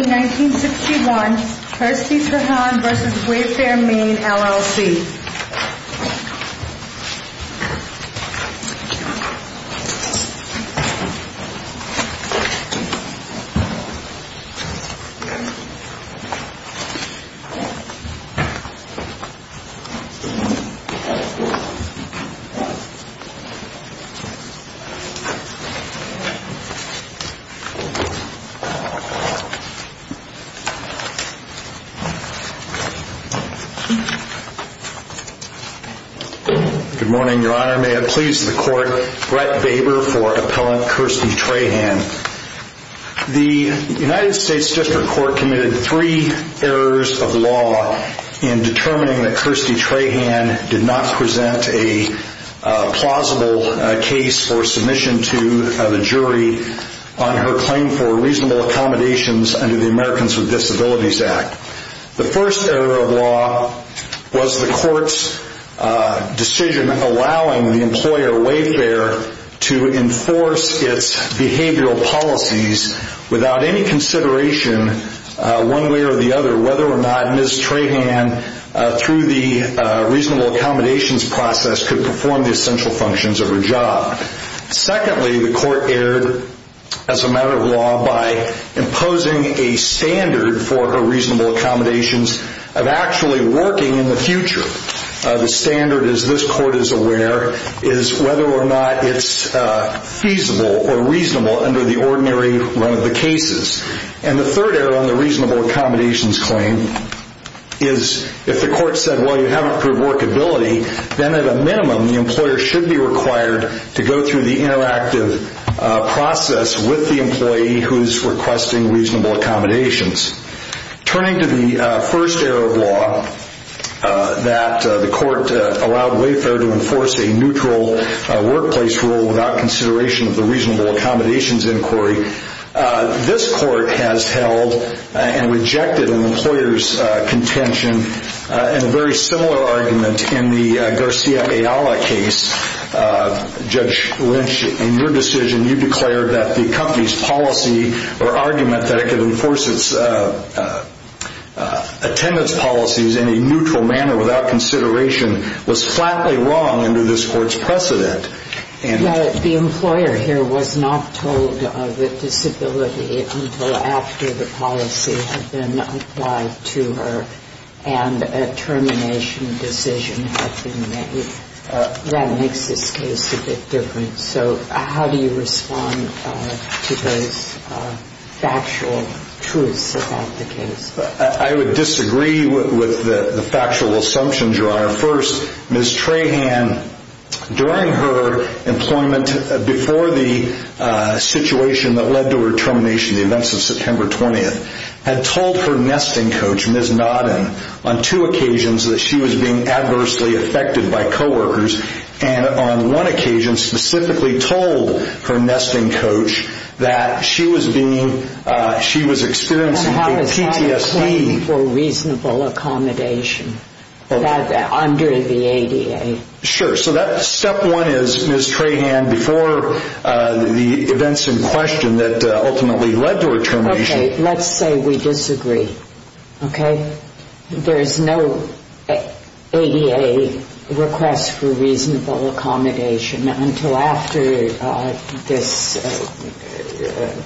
1961 Percy Trahan v. Wayfair Maine, LLC Good morning, Your Honor. May it please the Court, Brett Baber for Appellant Kirstie Trahan. The United States District Court committed three errors of law in determining that Kirstie Trahan did not present a plausible case for submission to the jury on her claim for reasonable accommodations under the Americans with Disabilities Act. The first error of law was the Court's decision allowing the employer Wayfair to enforce its behavioral policies without any consideration one way or the other whether or not Ms. Trahan, through the reasonable accommodations process, could perform the essential functions of her job. Secondly, the Court erred, as a matter of law, by imposing a standard for her reasonable accommodations of actually working in the future. The standard, as this Court is aware, is whether or not it's feasible or reasonable under the ordinary run of the cases. And the third error on the reasonable accommodations claim is if the Court said, well, you haven't proved workability, then at a minimum the employer should be required to go through the interactive process with the employee who's requesting reasonable accommodations. Turning to the first error of law, that the Court allowed Wayfair to enforce a neutral workplace rule without consideration of the reasonable accommodations inquiry, this Court has held and rejected an employer's contention and a very similar argument in the Garcia Ayala case. Judge Lynch, in your decision, you declared that the company's policy or argument that it could enforce its attendance policies in a neutral manner without consideration was flatly wrong under this Court's precedent. The employer here was not told of a disability until after the policy had been applied to her and a termination decision had been made. That makes this case a bit different. So how do you respond to those factual truths about the case? I would disagree with the factual assumptions, Your Honor. First, Ms. Trahan, during her employment before the situation that led to her termination, the events of September 20th, had told her nesting coach, Ms. Nodden, on two occasions that she was being adversely affected by co-workers and on one occasion specifically told her nesting coach that she was being, she was experiencing a PTSD for reasonable accommodation under the ADA. Sure. So that step one is, Ms. Trahan, before the events in question that ultimately led to her termination. Okay. Let's say we disagree. Okay? There is no ADA request for reasonable accommodation until after this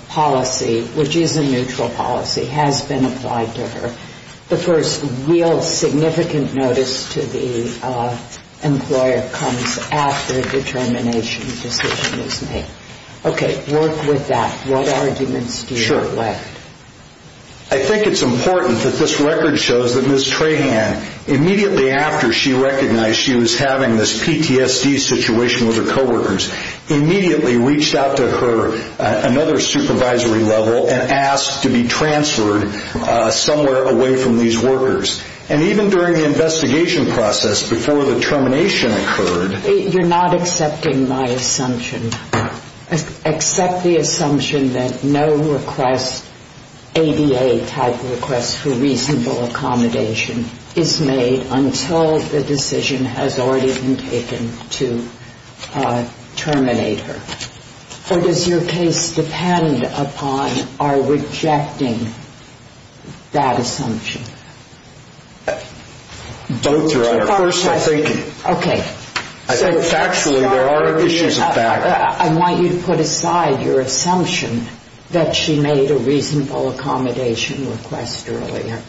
policy, which is a neutral policy, has been applied to her. The first real significant notice to the employer comes after the termination decision is made. Okay. Work with that. What arguments do you have left? I think it's important that this record shows that Ms. Trahan, immediately after she recognized she was having this PTSD situation with her co-workers, immediately reached out to her another supervisory level and asked to be transferred somewhere away from these workers. And even during the investigation process before the termination occurred. You're not accepting my assumption. Accept the assumption that no request, ADA type request for reasonable accommodation is made until the decision has already been taken to terminate her. Or does your case depend upon our rejecting that assumption? Both, Your Honor. First, I think. Okay. I think factually there are issues of fact. I want you to put aside your assumption that she made a reasonable accommodation request earlier.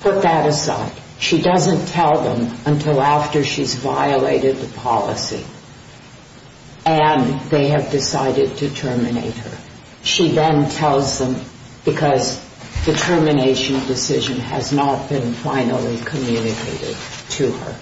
Put that aside. She doesn't tell them until after she's violated the policy and they have decided to terminate her. She then tells them because the termination decision has not been finally communicated to her.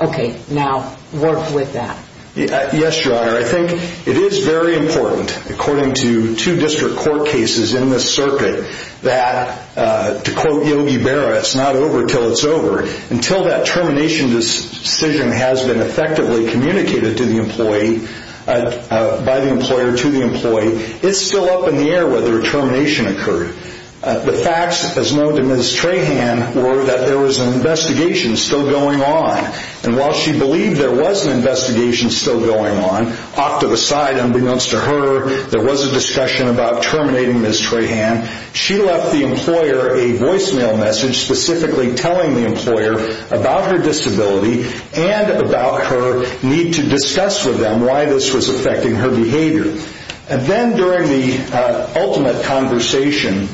Okay. Now, work with that. Yes, Your Honor. I think it is very important, according to two district court cases in this circuit, that to quote Yogi Berra, it's not over until it's over. Until that termination decision has been effectively communicated to the employee, by the employer to the employee, it's still up in the air whether a termination occurred. The facts, as known to Ms. Trahan, were that there was an investigation still going on. And while she believed there was an investigation still going on, off to the side, unbeknownst to her, there was a discussion about terminating Ms. Trahan, she left the employer a voicemail message specifically telling the employer about her disability and about her need to discuss with them why this was Then during the ultimate conversation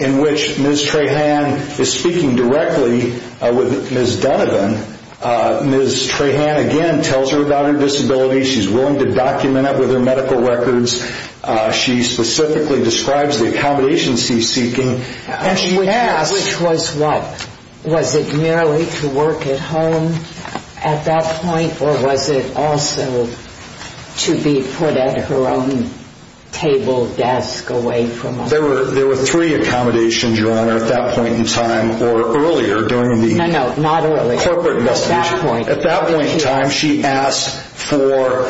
in which Ms. Trahan is speaking directly with Ms. Dunnevin, Ms. Trahan again tells her about her disability. She's willing to document it with her medical records. She specifically describes the accommodations she's seeking and she asks Which was what? Was it merely to work at home at that point or was it also to be put on at her own table desk away from home? There were three accommodations, Your Honor, at that point in time or earlier during the corporate investigation. No, no, not earlier. At that point in time she asked for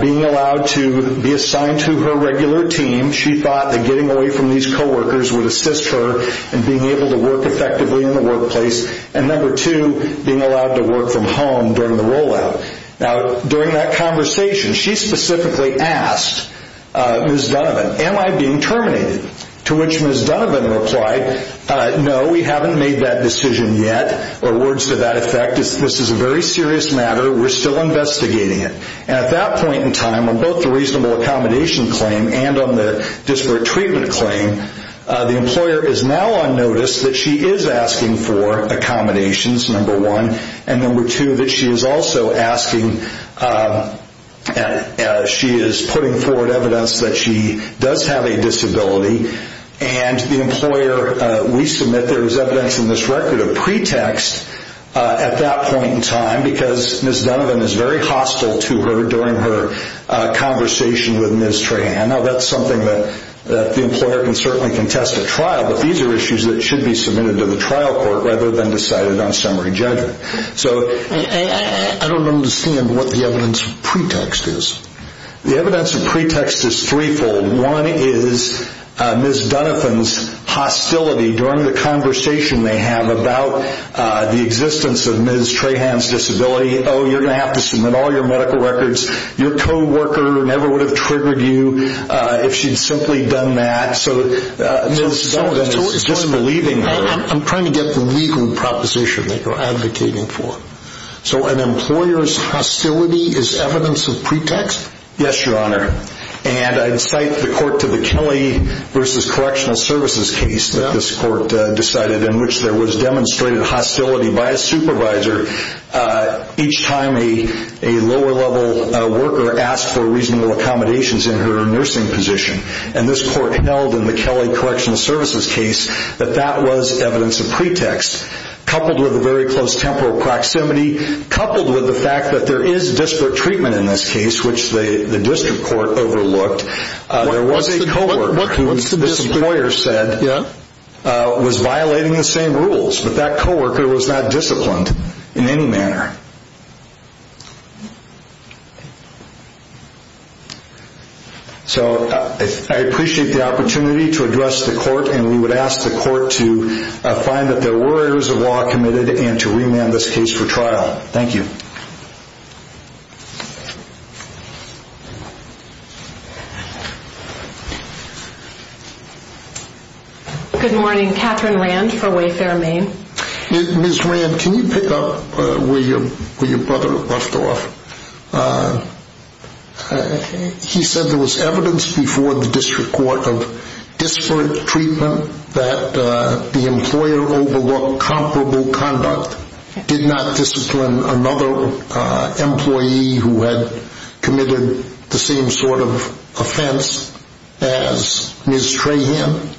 being allowed to be assigned to her regular team. She thought that getting away from these co-workers would assist her in being able to work effectively in the workplace. And number two, being allowed to work from home during the rollout. Now Ms. Trahan asked Ms. Dunnevin, am I being terminated? To which Ms. Dunnevin replied, no, we haven't made that decision yet. Or words to that effect, this is a very serious matter. We're still investigating it. And at that point in time on both the reasonable accommodation claim and on the disparate treatment claim, the employer is now on notice that she is asking for accommodations, number one. And number two, that she is also asking and she is putting forward evidence that she does have a disability and the employer we submit there is evidence in this record of pretext at that point in time because Ms. Dunnevin is very hostile to her during her conversation with Ms. Trahan. Now that's something that the employer can certainly contest at trial, but these are issues that should be submitted to the trial court rather than decided on summary judgment. So I don't understand what the evidence of pretext is. The evidence of pretext is threefold. One is Ms. Dunnevin's hostility during the conversation they have about the existence of Ms. Trahan's disability. Oh, you're going to have to submit all your medical records. Your co-worker never would have triggered you if she'd simply done that. So Ms. Dunnevin is disbelieving I'm trying to get the legal proposition that you're advocating for. So an employer's hostility is evidence of pretext? Yes, Your Honor. And I'd cite the court to the Kelly v. Correctional Services case that this court decided in which there was demonstrated hostility by a supervisor each time a lower level worker asked for reasonable accommodations in her home. That was evidence of pretext. Coupled with a very close temporal proximity, coupled with the fact that there is district treatment in this case, which the district court overlooked, there was a co-worker who this employer said was violating the same rules, but that co-worker was not disciplined in any manner. So I appreciate the opportunity to address the court and we find that there were errors of law committed and to remand this case for trial. Thank you. Good morning. Catherine Rand for Wayfair Maine. Ms. Rand, can you pick up where your brother left off? He said there was evidence before the district court of disparate treatment that the employer overlooked comparable conduct, did not discipline another employee who had committed the same sort of offense as Ms. Trahan?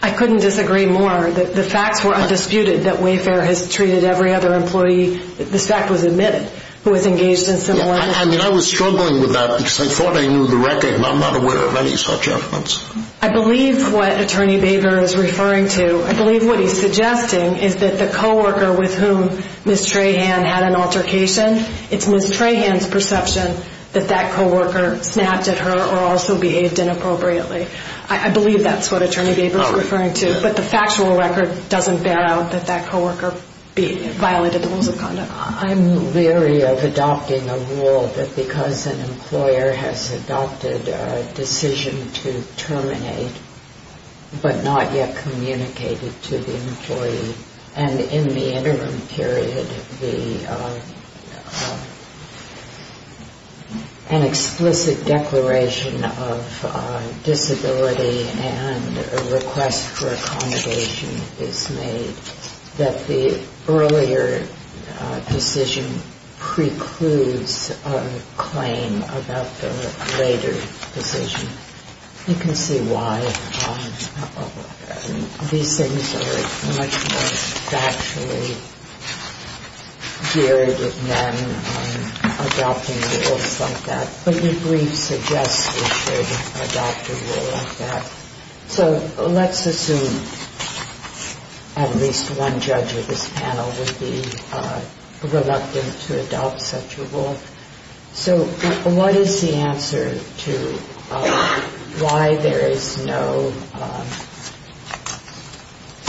I couldn't disagree more. The facts were undisputed that Wayfair has treated every other employee, this fact was admitted, who was engaged in similar... I mean, I was struggling with that because I thought I knew the record and I'm not aware of any such offense. I believe what Attorney Baber is referring to, I believe what he's suggesting is that the co-worker with whom Ms. Trahan had an altercation, it's Ms. Trahan's perception that that co-worker snapped at her or also behaved inappropriately. I believe that's what Attorney Baber is referring to, but the factual record doesn't bear out that that co-worker violated the rules of conduct. I'm leery of adopting a rule that because an employer has adopted a decision to terminate but not yet communicated to the employee, and in the interim period, an explicit declaration of disability and a request for claim about the later decision. You can see why these things are much more factually geared than adopting rules like that. But the brief suggests we should adopt a rule like that. So let's assume at least one judge of this panel would be reluctant to adopt such a rule. So what is the answer to why there is no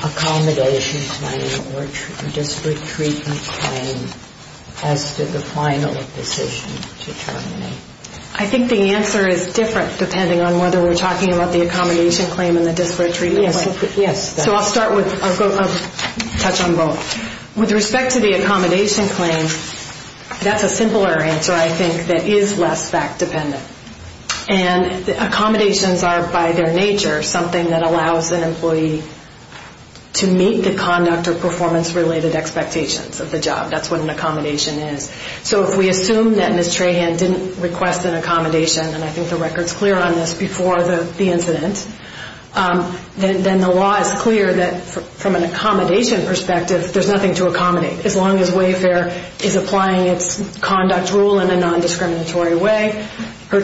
accommodation claim or disparate treatment claim as to the final decision to terminate? I think the answer is different depending on whether we're talking about the accommodation claim and the disparate treatment claim. So I'll start with, I'll touch on both. With respect to the accommodation claim, that's a simpler answer, I think, that is less fact dependent. And accommodations are, by their nature, something that allows an employee to meet the conduct or performance-related expectations of the job. That's what an accommodation is. So if we assume that Ms. Trahan didn't request an accommodation, and I think the record's clear on this before the incident, then the law is clear that from an employee's point of view, there's nothing to accommodate. As long as Wayfair is applying its conduct rule in a non-discriminatory way, her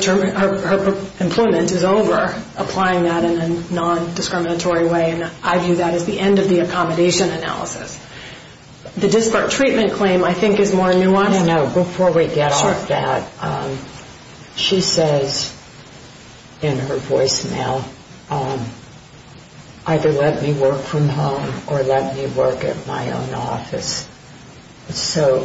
employment is over applying that in a non-discriminatory way, and I view that as the end of the accommodation analysis. The disparate treatment claim, I think, is more nuanced. No, no, no. Before we get off that, she says in her voicemail, either let me work from home or let me work at my own office. So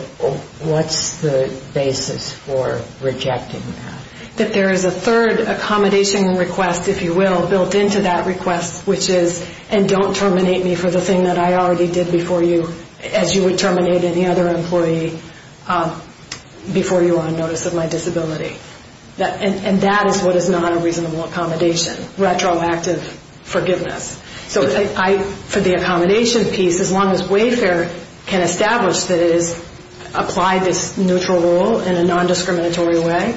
what's the basis for rejecting that? That there is a third accommodation request, if you will, built into that request, which is, and don't terminate any other employee before you are on notice of my disability. And that is what is not a reasonable accommodation, retroactive forgiveness. So for the accommodation piece, as long as Wayfair can establish that it has applied this neutral rule in a non-discriminatory way,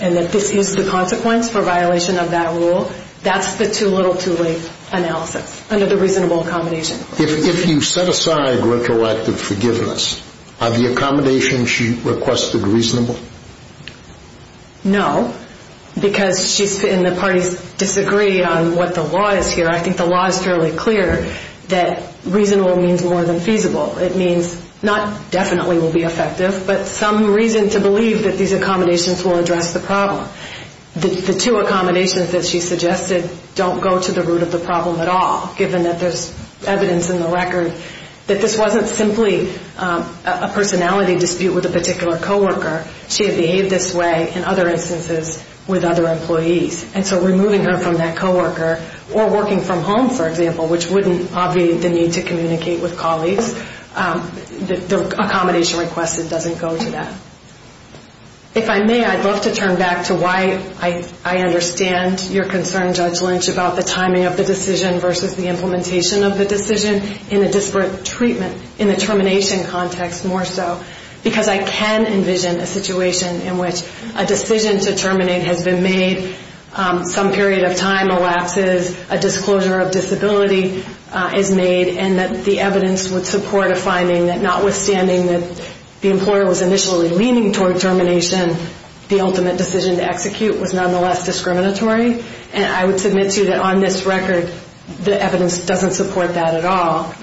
and that this is the consequence for violation of that rule, that's the little too late analysis under the reasonable accommodation. If you set aside retroactive forgiveness, are the accommodations she requested reasonable? No, because she's, and the parties disagree on what the law is here. I think the law is fairly clear that reasonable means more than feasible. It means not definitely will be effective, but some reason to believe that these accommodations will address the problem. The two accommodations that she suggested don't go to the root of the problem at all, given that there's evidence in the record that this wasn't simply a personality dispute with a particular coworker. She had behaved this way in other instances with other employees. And so removing her from that coworker or working from home, for example, which wouldn't obviate the need to communicate with colleagues, the accommodation requested doesn't go to that. If I may, I'd love to turn back to why I understand your concern, Judge Lynch, about the timing of the decision versus the implementation of the decision in a disparate treatment, in the termination context more so. Because I can envision a situation in which a decision to terminate has been made, some period of time elapses, a disclosure of disability is made, and that the evidence would support a finding that notwithstanding that the employer was initially leaning toward termination, the ultimate decision to execute was nonetheless discriminatory. And I would submit to you that on this record, the evidence doesn't support that at all.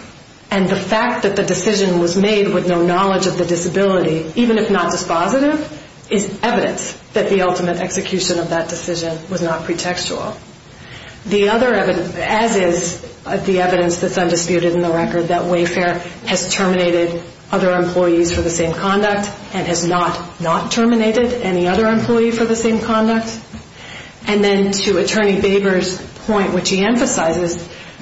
And the fact that the decision was made with no knowledge of the disability, even if not as positive, is evidence that the ultimate execution of that decision was not pretextual. The other evidence, as is the evidence that's undisputed in the record, that Wayfair has terminated other employees for the same conduct and has not not terminated any other employee for the same conduct. And then to Attorney Baver's point, which he emphasizes,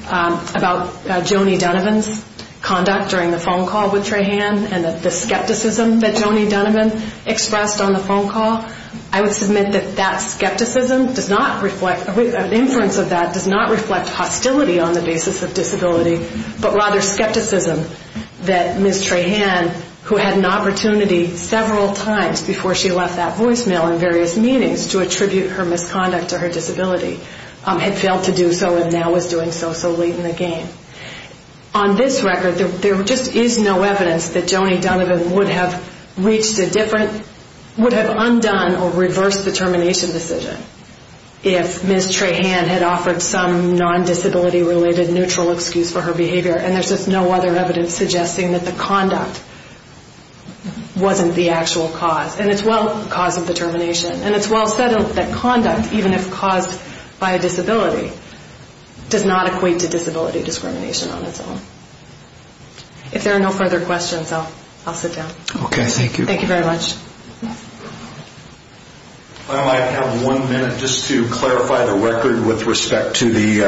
about Joni Dunavant's conduct during the phone call with Trahan and the skepticism that Joni Dunavant expressed on the phone call, I would submit that that skepticism does not reflect, an inference of that does not reflect hostility on the basis of disability, but rather skepticism that Ms. Trahan, who had an opportunity several times before she left that voicemail in various meetings to attribute her misconduct to her disability, had failed to do so and now is doing so, so late in the game. On this record, there just is no evidence that Joni Dunavant would have reached a different, would have undone or reversed the termination decision if Ms. Trahan had offered some non-disability related neutral excuse for her behavior, and there's just no other evidence suggesting that the conduct wasn't the actual cause, and it's well the cause of the termination, and it's well said that conduct, even if caused by a disability, does not equate to disability discrimination on its own. If there are no further questions, I'll sit down. Thank you very much. I might have one minute just to clarify the record with respect to the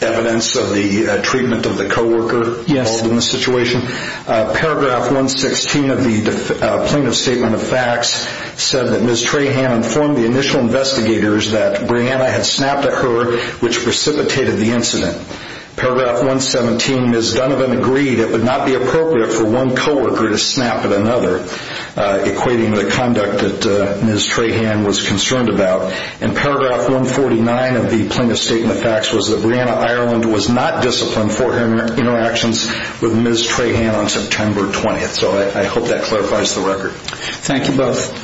evidence of the treatment of the co-worker involved in the situation. Paragraph 116 of the plaintiff's statement of facts said that Ms. Trahan informed the initial investigators that Brianna had snapped at her, which precipitated the incident. Paragraph 117, Ms. Dunavant agreed it would not be appropriate for one co-worker to snap at another, equating the conduct that Ms. Trahan was concerned about. And paragraph 149 of the plaintiff's statement of facts was that Brianna Ireland was not disciplined for her interactions with Ms. Trahan on September 20th. So I hope that clarifies the record. Thank you both.